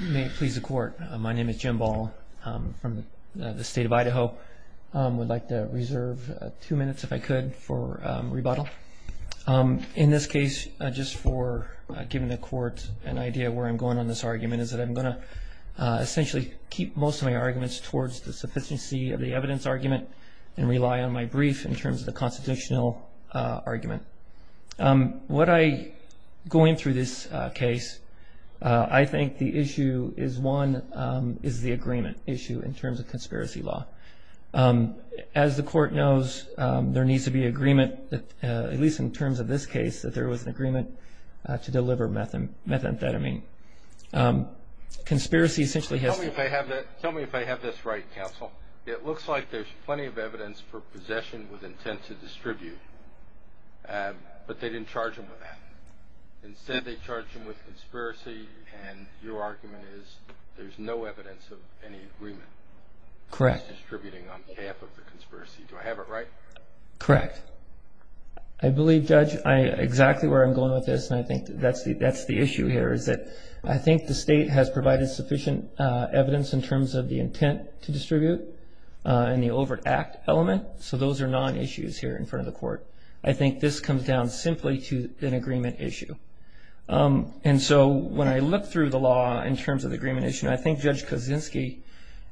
You may please the court. My name is Jim Ball from the state of Idaho. I would like to reserve two minutes if I could for rebuttal. In this case, just for giving the court an idea of where I'm going on this argument, is that I'm going to essentially keep most of my arguments towards the sufficiency of the evidence argument and rely on my brief in terms of the constitutional argument. Going through this case, I think the issue is one is the agreement issue in terms of conspiracy law. As the court knows, there needs to be agreement, at least in terms of this case, that there was an agreement to deliver methamphetamine. Tell me if I have this right, counsel. It looks like there's plenty of evidence for possession with intent to distribute, but they didn't charge him with that. Instead, they charged him with conspiracy, and your argument is there's no evidence of any agreement. He's distributing on behalf of the conspiracy. Do I have it right? Correct. I believe, Judge, exactly where I'm going with this, and I think that's the issue here, is that I think the state has provided sufficient evidence in terms of the intent to distribute and the overt act element, so those are non-issues here in front of the court. I think this comes down simply to an agreement issue. When I look through the law in terms of the agreement issue, I think Judge Kaczynski,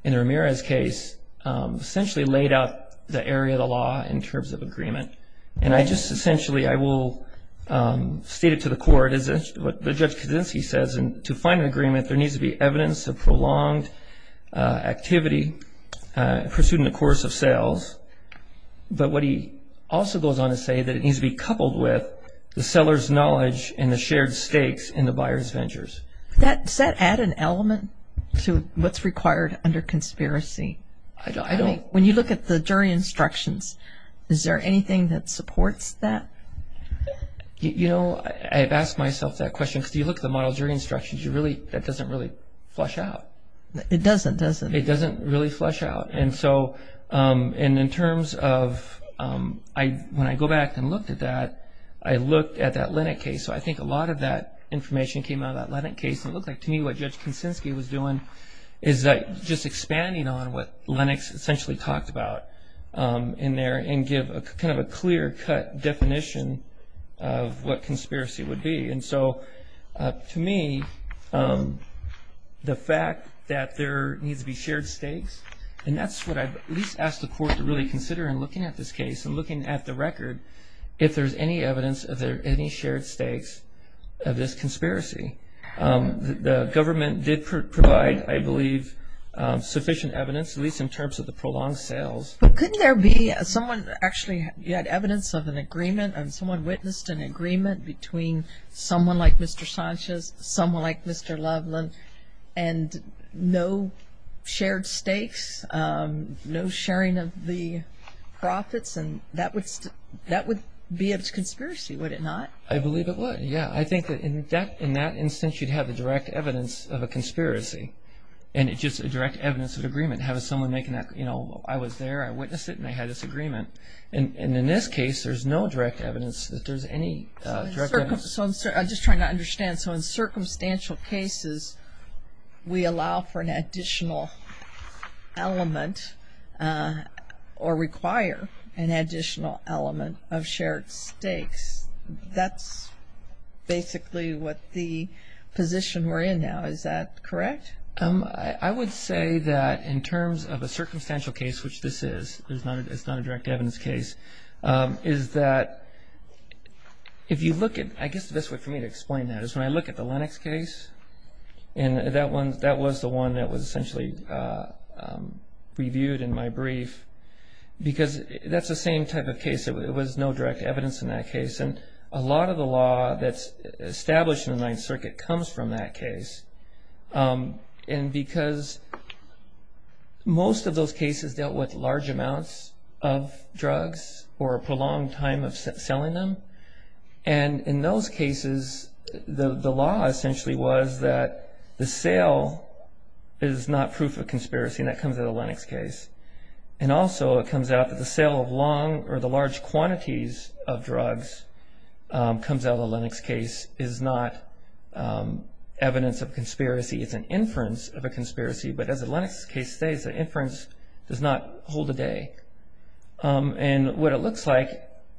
in Ramirez's case, essentially laid out the area of the law in terms of agreement, and I just essentially, I will state it to the court, what Judge Kaczynski says, and to find an agreement, there needs to be evidence of prolonged activity pursued in the course of sales, but what he also goes on to say that it needs to be coupled with the seller's knowledge and the shared stakes in the buyer's ventures. Does that add an element to what's required under conspiracy? I don't. When you look at the jury instructions, is there anything that supports that? You know, I've asked myself that question, because you look at the model jury instructions, that doesn't really flush out. It doesn't, does it? It doesn't really flush out, and so in terms of, when I go back and looked at that, I looked at that Lennock case, so I think a lot of that information came out of that Lennock case, and it looked like, to me, what Judge Kaczynski was doing is just expanding on what Lennox essentially talked about in there and give kind of a clear-cut definition of what conspiracy would be, and so to me, the fact that there needs to be shared stakes, and that's what I've at least asked the court to really consider in looking at this case and looking at the record, if there's any evidence, if there are any shared stakes of this conspiracy. The government did provide, I believe, sufficient evidence, at least in terms of the prolonged sales. But couldn't there be someone actually, you had evidence of an agreement, and someone witnessed an agreement between someone like Mr. Sanchez, someone like Mr. Loveland, and no shared stakes, no sharing of the profits, and that would be a conspiracy, would it not? I believe it would, yeah. I think that in that instance, you'd have the direct evidence of a conspiracy, and it's just a direct evidence of agreement, having someone making that, you know, I was there, I witnessed it, and I had this agreement. And in this case, there's no direct evidence that there's any direct evidence. So I'm just trying to understand, so in circumstantial cases, we allow for an additional element or require an additional element of shared stakes. That's basically what the position we're in now, is that correct? I would say that in terms of a circumstantial case, which this is, it's not a direct evidence case, is that if you look at, I guess the best way for me to explain that is when I look at the Lennox case, and that was the one that was essentially reviewed in my brief, because that's the same type of case. It was no direct evidence in that case. And a lot of the law that's established in the Ninth Circuit comes from that case. And because most of those cases dealt with large amounts of drugs or a prolonged time of selling them. And in those cases, the law essentially was that the sale is not proof of conspiracy, and that comes out of the Lennox case. And also it comes out that the sale of long or the large quantities of drugs comes out of the Lennox case is not evidence of conspiracy. It's an inference of a conspiracy. But as the Lennox case states, the inference does not hold the day. And what it looks like,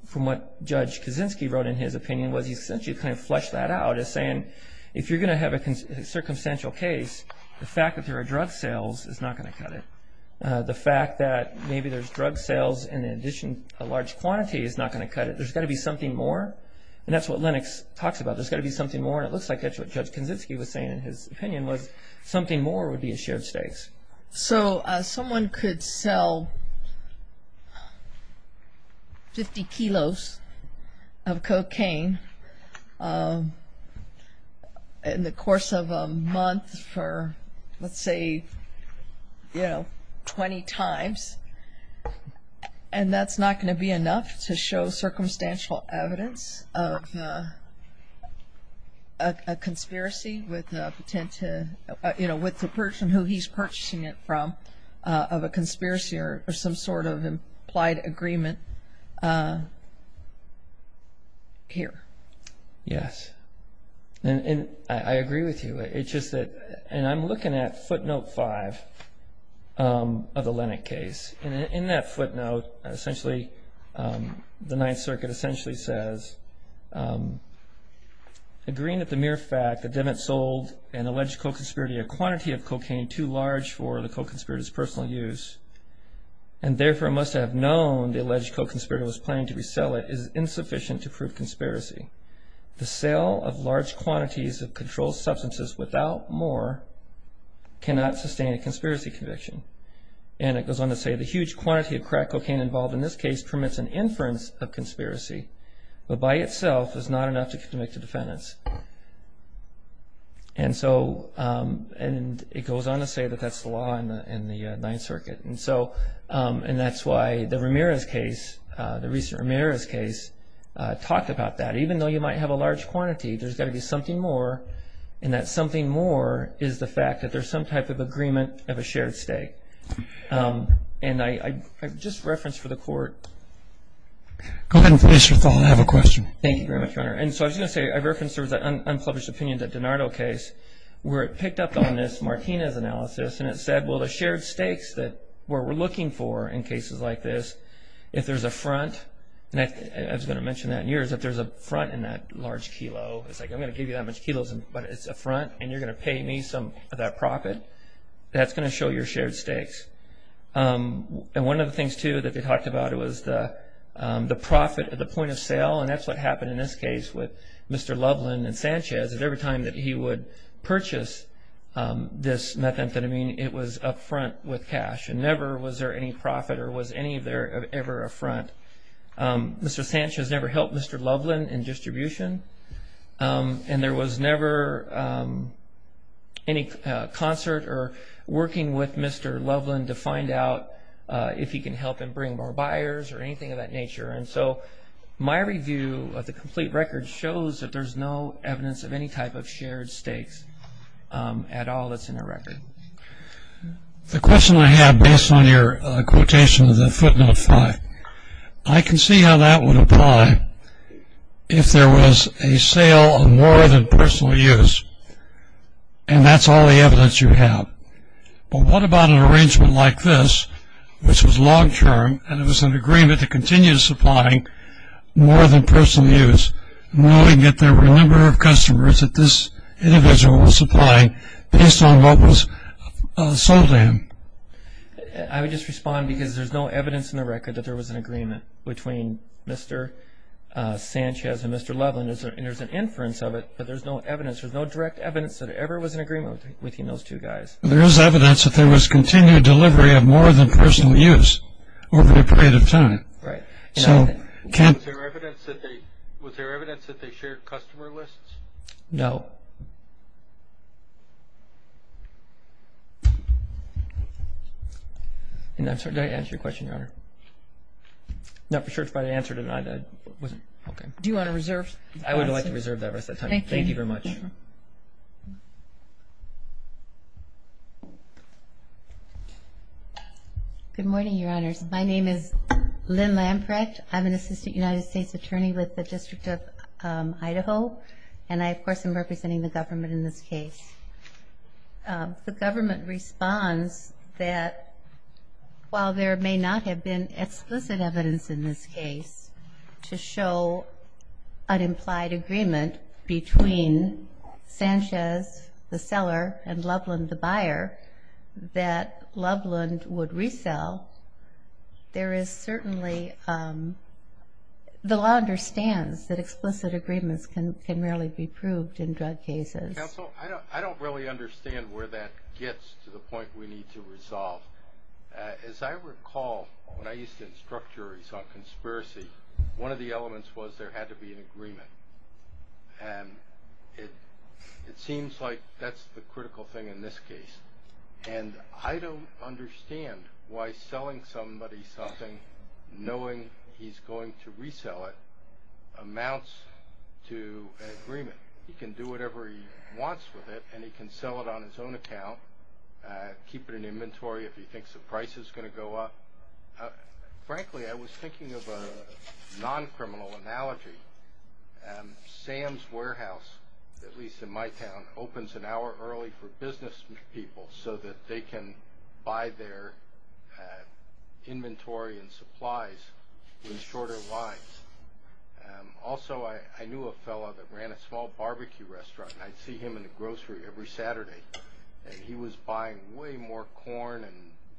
from what Judge Kaczynski wrote in his opinion, was he essentially kind of fleshed that out as saying, if you're going to have a circumstantial case, the fact that there are drug sales is not going to cut it. The fact that maybe there's drug sales and in addition a large quantity is not going to cut it. There's got to be something more. And that's what Lennox talks about. There's got to be something more. And it looks like that's what Judge Kaczynski was saying in his opinion, was something more would be at shared stakes. So someone could sell 50 kilos of cocaine in the course of a month for, let's say, you know, 20 times. And that's not going to be enough to show circumstantial evidence of a conspiracy with the person who he's purchasing it from of a conspiracy or some sort of implied agreement here. Yes. And I agree with you. And I'm looking at footnote five of the Lennox case. In that footnote, essentially, the Ninth Circuit essentially says, agreeing that the mere fact that Devitt sold an alleged co-conspirator a quantity of cocaine too large for the co-conspirator's personal use, and therefore must have known the alleged co-conspirator was planning to resell it, is insufficient to prove conspiracy. The sale of large quantities of controlled substances without more cannot sustain a conspiracy conviction. And it goes on to say the huge quantity of crack cocaine involved in this case permits an inference of conspiracy, but by itself is not enough to convict a defendant. And so it goes on to say that that's the law in the Ninth Circuit. And that's why the Ramirez case, the recent Ramirez case, talked about that. Even though you might have a large quantity, there's got to be something more. And that something more is the fact that there's some type of agreement of a shared stake. And I've just referenced for the Court. Go ahead and finish your thought. I have a question. Thank you very much, Your Honor. And so I was going to say I referenced the unpublished opinions at DiNardo case where it picked up on this Martinez analysis and it said, well, the shared stakes that we're looking for in cases like this, if there's a front, and I was going to mention that in yours, if there's a front in that large kilo, it's like I'm going to give you that much kilos, but it's a front, and you're going to pay me some of that profit, that's going to show your shared stakes. And one of the things, too, that they talked about was the profit at the point of sale, and that's what happened in this case with Mr. Loveland and Sanchez, that every time that he would purchase this methamphetamine, it was up front with cash. Never was there any profit or was any of there ever a front. Mr. Sanchez never helped Mr. Loveland in distribution, and there was never any concert or working with Mr. Loveland to find out if he can help him bring more buyers or anything of that nature. And so my review of the complete record shows that there's no evidence of any type of shared stakes at all that's in the record. The question I have, based on your quotation of the footnote five, I can see how that would apply if there was a sale of more than personal use, and that's all the evidence you have. But what about an arrangement like this, which was long-term, and it was an agreement to continue supplying more than personal use, knowing that there were a number of customers that this individual was supplying based on what was sold to him? I would just respond because there's no evidence in the record that there was an agreement between Mr. Sanchez and Mr. Loveland. There's an inference of it, but there's no evidence. There's no direct evidence that there ever was an agreement between those two guys. There is evidence that there was continued delivery of more than personal use over a period of time. Right. Was there evidence that they shared customer lists? No. And I'm sorry, did I answer your question, Your Honor? I'm not sure if I answered it or not. Do you want to reserve? I would like to reserve that rest of the time. Thank you. Thank you very much. Good morning, Your Honors. My name is Lynn Lamprecht. I'm an assistant United States attorney with the District of Idaho, and I, of course, am representing the government in this case. The government responds that while there may not have been explicit evidence in this case to show an implied agreement between Sanchez, the seller, and Loveland, the buyer, that Loveland would resell, there is certainly the law understands that explicit agreements can rarely be proved in drug cases. Counsel, I don't really understand where that gets to the point we need to resolve. As I recall, when I used to instruct juries on conspiracy, one of the elements was there had to be an agreement. And it seems like that's the critical thing in this case. And I don't understand why selling somebody something, knowing he's going to resell it, amounts to an agreement. He can do whatever he wants with it, and he can sell it on his own account, keep it in inventory if he thinks the price is going to go up. Frankly, I was thinking of a non-criminal analogy. Sam's Warehouse, at least in my town, opens an hour early for business people so that they can buy their inventory and supplies in shorter lines. Also, I knew a fellow that ran a small barbecue restaurant, and I'd see him in the grocery every Saturday. And he was buying way more corn and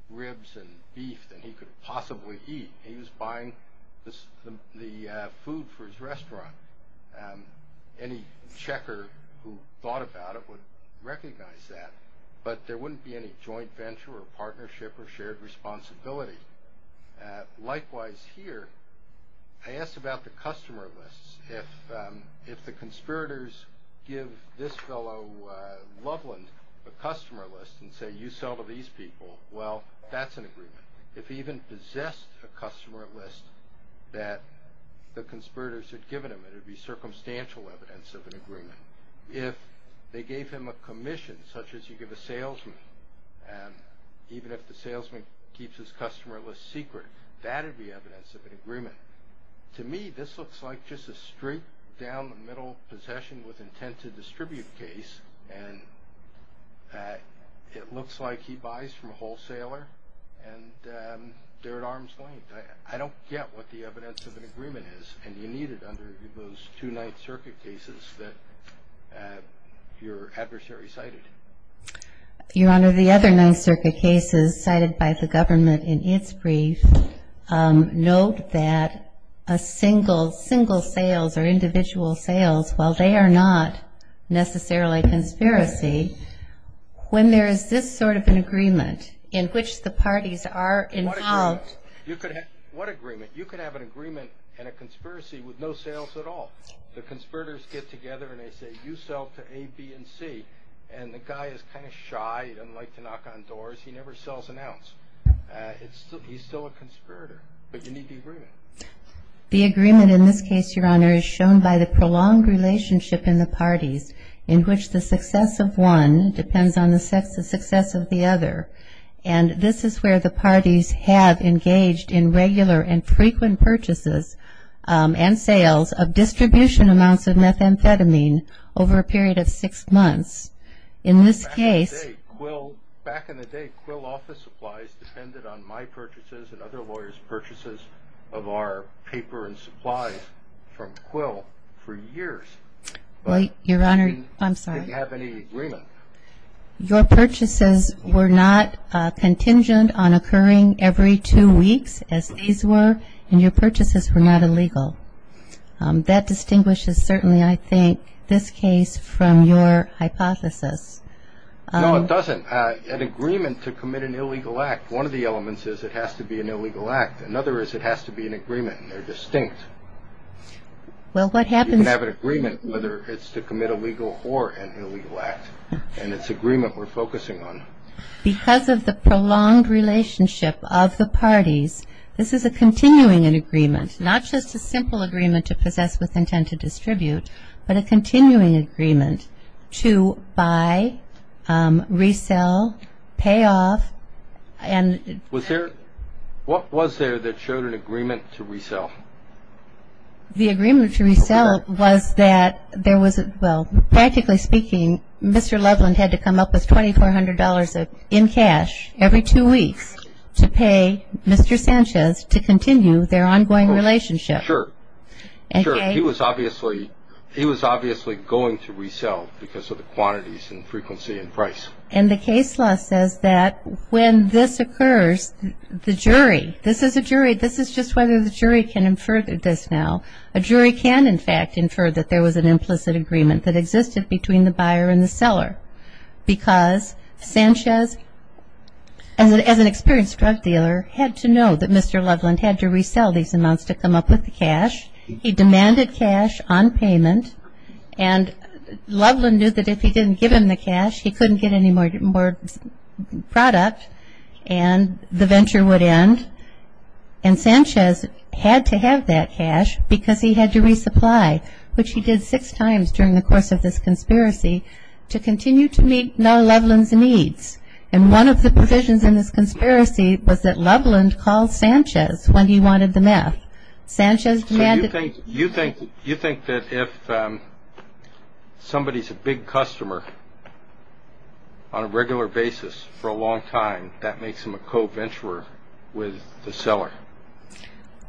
ribs and beef than he could possibly eat. He was buying the food for his restaurant. Any checker who thought about it would recognize that. But there wouldn't be any joint venture or partnership or shared responsibility. Likewise here, I asked about the customer lists. If the conspirators give this fellow Loveland a customer list and say, you sell to these people, well, that's an agreement. If he even possessed a customer list that the conspirators had given him, it would be circumstantial evidence of an agreement. If they gave him a commission, such as you give a salesman, even if the salesman keeps his customer list secret, that would be evidence of an agreement. To me, this looks like just a straight down the middle possession with intent to distribute case, and it looks like he buys from a wholesaler, and they're at arm's length. I don't get what the evidence of an agreement is, and you need it under those two Ninth Circuit cases that your adversary cited. Your Honor, the other Ninth Circuit cases cited by the government in its brief note that a single sales or individual sales, while they are not necessarily a conspiracy, when there is this sort of an agreement in which the parties are involved. What agreement? You could have an agreement and a conspiracy with no sales at all. The conspirators get together and they say, you sell to A, B, and C, and the guy is kind of shy. He doesn't like to knock on doors. He never sells an ounce. He's still a conspirator, but you need the agreement. The agreement in this case, Your Honor, is shown by the prolonged relationship in the parties in which the success of one depends on the success of the other, and this is where the parties have engaged in regular and frequent purchases and sales of distribution amounts of methamphetamine over a period of six months. Back in the day, Quill office supplies depended on my purchases and other lawyers' purchases of our paper and supplies from Quill for years. Wait, Your Honor. I'm sorry. I didn't have any agreement. Your purchases were not contingent on occurring every two weeks, as these were, and your purchases were not illegal. That distinguishes, certainly, I think, this case from your hypothesis. No, it doesn't. An agreement to commit an illegal act, one of the elements is it has to be an illegal act. Another is it has to be an agreement, and they're distinct. Well, what happens- You can have an agreement whether it's to commit a legal or an illegal act, and it's agreement we're focusing on. Because of the prolonged relationship of the parties, this is a continuing agreement, not just a simple agreement to possess with intent to distribute, but a continuing agreement to buy, resell, pay off, and- Was there, what was there that showed an agreement to resell? The agreement to resell was that there was, well, practically speaking, Mr. Loveland had to come up with $2,400 in cash every two weeks to pay Mr. Sanchez to continue their ongoing relationship. Sure. He was obviously going to resell because of the quantities and frequency and price. And the case law says that when this occurs, the jury, this is a jury, this is just whether the jury can infer this now. A jury can, in fact, infer that there was an implicit agreement that existed between the buyer and the seller, because Sanchez, as an experienced drug dealer, had to know that Mr. Loveland had to resell these amounts to come up with the cash. He demanded cash on payment, and Loveland knew that if he didn't give him the cash, he couldn't get any more product, and the venture would end. And Sanchez had to have that cash because he had to resupply, which he did six times during the course of this conspiracy, to continue to meet Loveland's needs. And one of the provisions in this conspiracy was that Loveland called Sanchez when he wanted the meth. So you think that if somebody is a big customer on a regular basis for a long time, that makes them a co-venturer with the seller?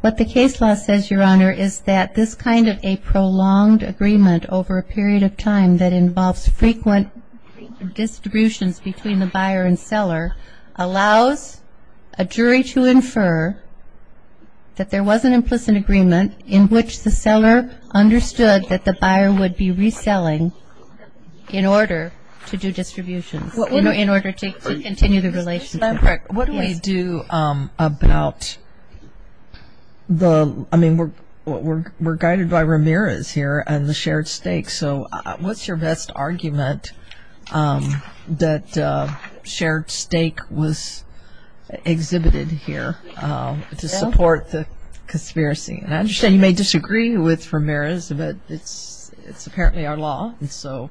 What the case law says, Your Honor, is that this kind of a prolonged agreement over a period of time that involves frequent distributions between the buyer and seller allows a jury to infer that there was an implicit agreement in which the seller understood that the buyer would be reselling in order to do distributions, in order to continue the relationship. What do we do about the, I mean, we're guided by Ramirez here and the shared stake, so what's your best argument that shared stake was exhibited here to support the conspiracy? And I understand you may disagree with Ramirez, but it's apparently our law, so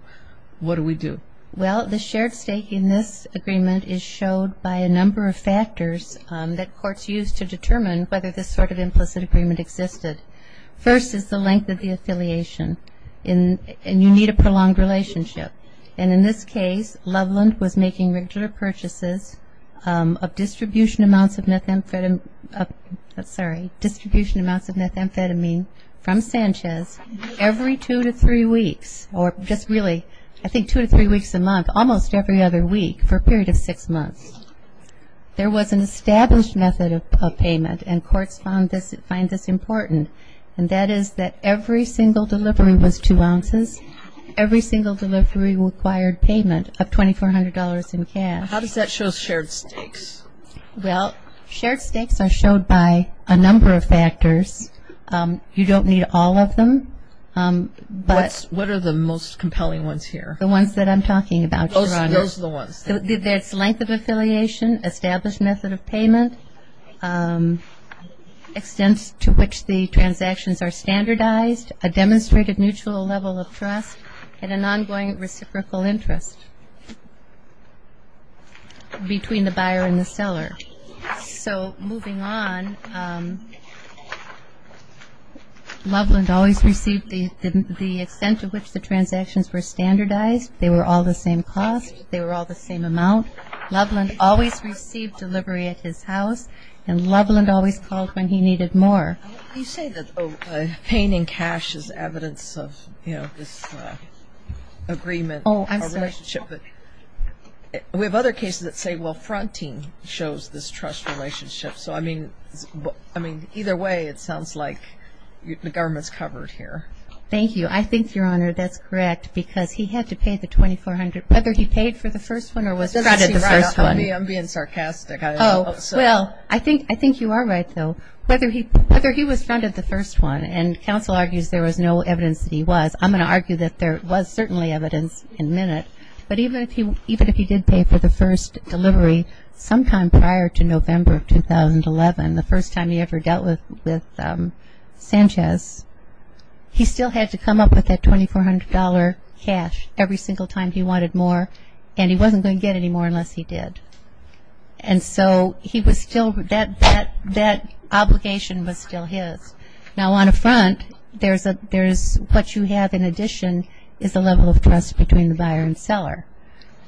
what do we do? Well, the shared stake in this agreement is showed by a number of factors that courts use to determine whether this sort of implicit agreement existed. First is the length of the affiliation, and you need a prolonged relationship. And in this case, Loveland was making regular purchases of distribution amounts of methamphetamine from Sanchez every two to three weeks, or just really, I think two to three weeks a month, almost every other week for a period of six months. There was an established method of payment, and courts find this important, and that is that every single delivery was two ounces. Every single delivery required payment of $2,400 in cash. How does that show shared stakes? Well, shared stakes are showed by a number of factors. You don't need all of them. What are the most compelling ones here? The ones that I'm talking about, Your Honor. Those are the ones. There's length of affiliation, established method of payment, extent to which the transactions are standardized, a demonstrated mutual level of trust, and an ongoing reciprocal interest between the buyer and the seller. So moving on, Loveland always received the extent to which the transactions were standardized. They were all the same cost. They were all the same amount. Loveland always received delivery at his house, and Loveland always called when he needed more. You say that pain in cash is evidence of, you know, this agreement. Oh, I'm sorry. We have other cases that say, well, fronting shows this trust relationship. So, I mean, either way, it sounds like the government's covered here. Thank you. I think, Your Honor, that's correct, because he had to pay the $2,400, whether he paid for the first one or was fronted the first one. I'm being sarcastic. Oh, well, I think you are right, though. Whether he was fronted the first one, and counsel argues there was no evidence that he was, I'm going to argue that there was certainly evidence in a minute, but even if he did pay for the first delivery sometime prior to November of 2011, the first time he ever dealt with Sanchez, he still had to come up with that $2,400 cash every single time he wanted more, and he wasn't going to get any more unless he did. And so he was still, that obligation was still his. Now, on a front, there's what you have in addition is a level of trust between the buyer and seller.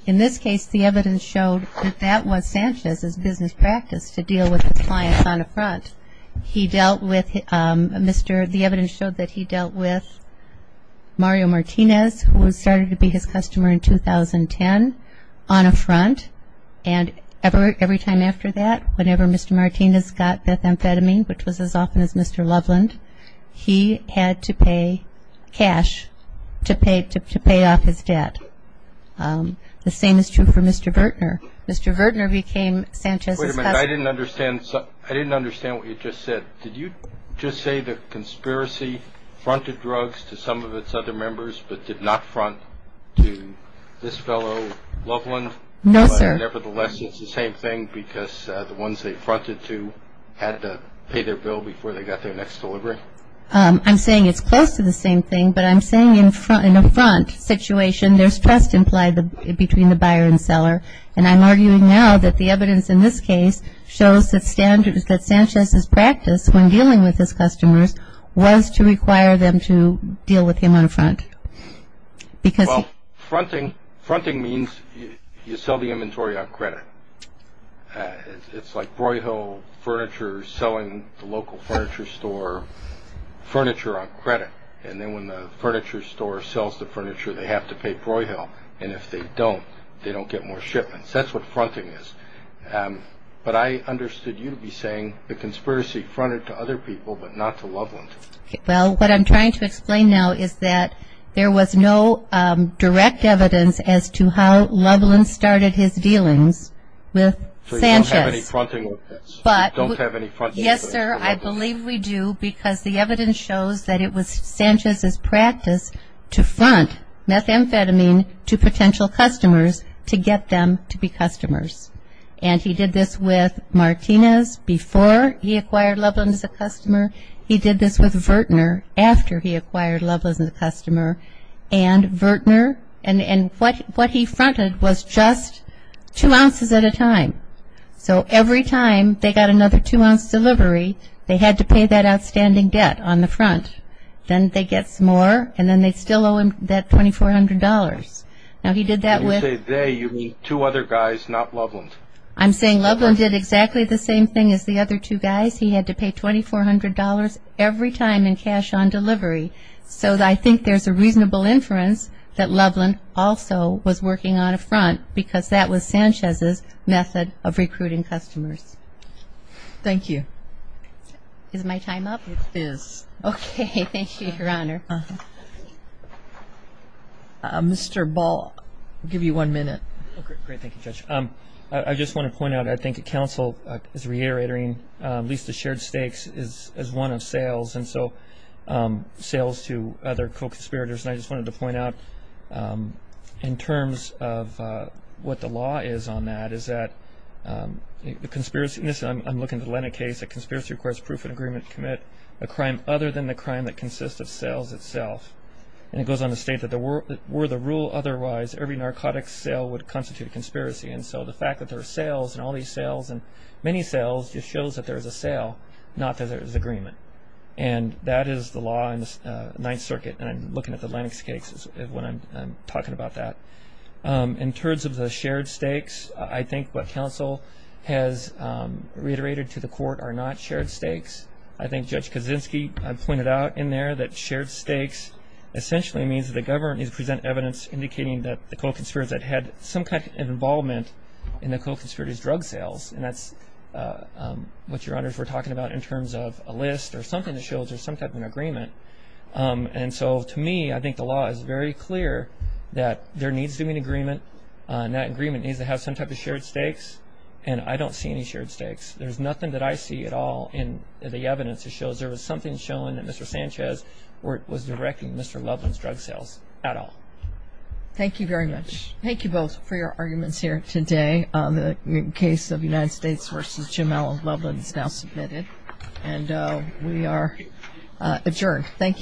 In this case, the evidence showed that that was Sanchez's business practice, to deal with the clients on a front. He dealt with Mr. — the evidence showed that he dealt with Mario Martinez, who started to be his customer in 2010, on a front, and every time after that, whenever Mr. Martinez got that amphetamine, which was as often as Mr. Loveland, he had to pay cash to pay off his debt. The same is true for Mr. Vertner. Mr. Vertner became Sanchez's customer. Wait a minute. I didn't understand what you just said. Did you just say the conspiracy fronted drugs to some of its other members but did not front to this fellow Loveland? No, sir. Nevertheless, it's the same thing because the ones they fronted to had to pay their bill before they got their next delivery? I'm saying it's close to the same thing, but I'm saying in a front situation, there's trust implied between the buyer and seller, and I'm arguing now that the evidence in this case shows that Sanchez's practice when dealing with his customers was to require them to deal with him on a front. Well, fronting means you sell the inventory on credit. It's like Broyhill Furniture selling the local furniture store furniture on credit, and then when the furniture store sells the furniture, they have to pay Broyhill, and if they don't, they don't get more shipments. That's what fronting is. But I understood you to be saying the conspiracy fronted to other people but not to Loveland. Well, what I'm trying to explain now is that there was no direct evidence as to how Loveland started his dealings with Sanchez. So you don't have any fronting with this? Yes, sir, I believe we do because the evidence shows that it was Sanchez's practice to front methamphetamine to potential customers to get them to be customers, and he did this with Martinez before he acquired Loveland as a customer. He did this with Vertner after he acquired Loveland as a customer, and what he fronted was just two ounces at a time. So every time they got another two-ounce delivery, they had to pay that outstanding debt on the front. Then they'd get some more, and then they'd still owe him that $2,400. When you say they, you mean two other guys, not Loveland? I'm saying Loveland did exactly the same thing as the other two guys. He had to pay $2,400 every time in cash on delivery. So I think there's a reasonable inference that Loveland also was working on a front because that was Sanchez's method of recruiting customers. Thank you. Is my time up? It is. Okay, thank you, Your Honor. Mr. Ball, I'll give you one minute. Great, thank you, Judge. I just want to point out I think counsel is reiterating at least the shared stakes is one of sales, and so sales to other co-conspirators, and I just wanted to point out in terms of what the law is on that is that the conspiracy, and this I'm looking at the Lena case, a conspiracy requires proof of agreement to commit a crime other than the crime that consists of sales itself. And it goes on to state that were the rule otherwise, every narcotics sale would constitute a conspiracy, and so the fact that there are sales and all these sales and many sales just shows that there is a sale, not that there is agreement. And that is the law in the Ninth Circuit, and I'm looking at the Lena case when I'm talking about that. In terms of the shared stakes, I think what counsel has reiterated to the court are not shared stakes. I think Judge Kaczynski pointed out in there that shared stakes essentially means that the government needs to present evidence indicating that the co-conspirators that had some kind of involvement in the co-conspirators' drug sales, and that's what your honors were talking about in terms of a list or something that shows there's some type of agreement. And so to me, I think the law is very clear that there needs to be an agreement, and that agreement needs to have some type of shared stakes, and I don't see any shared stakes. There's nothing that I see at all in the evidence that shows there was something shown that Mr. Sanchez was directing Mr. Loveland's drug sales at all. Thank you very much. Thank you both for your arguments here today. The case of United States v. Jim L. Loveland is now submitted, and we are adjourned. Thank you.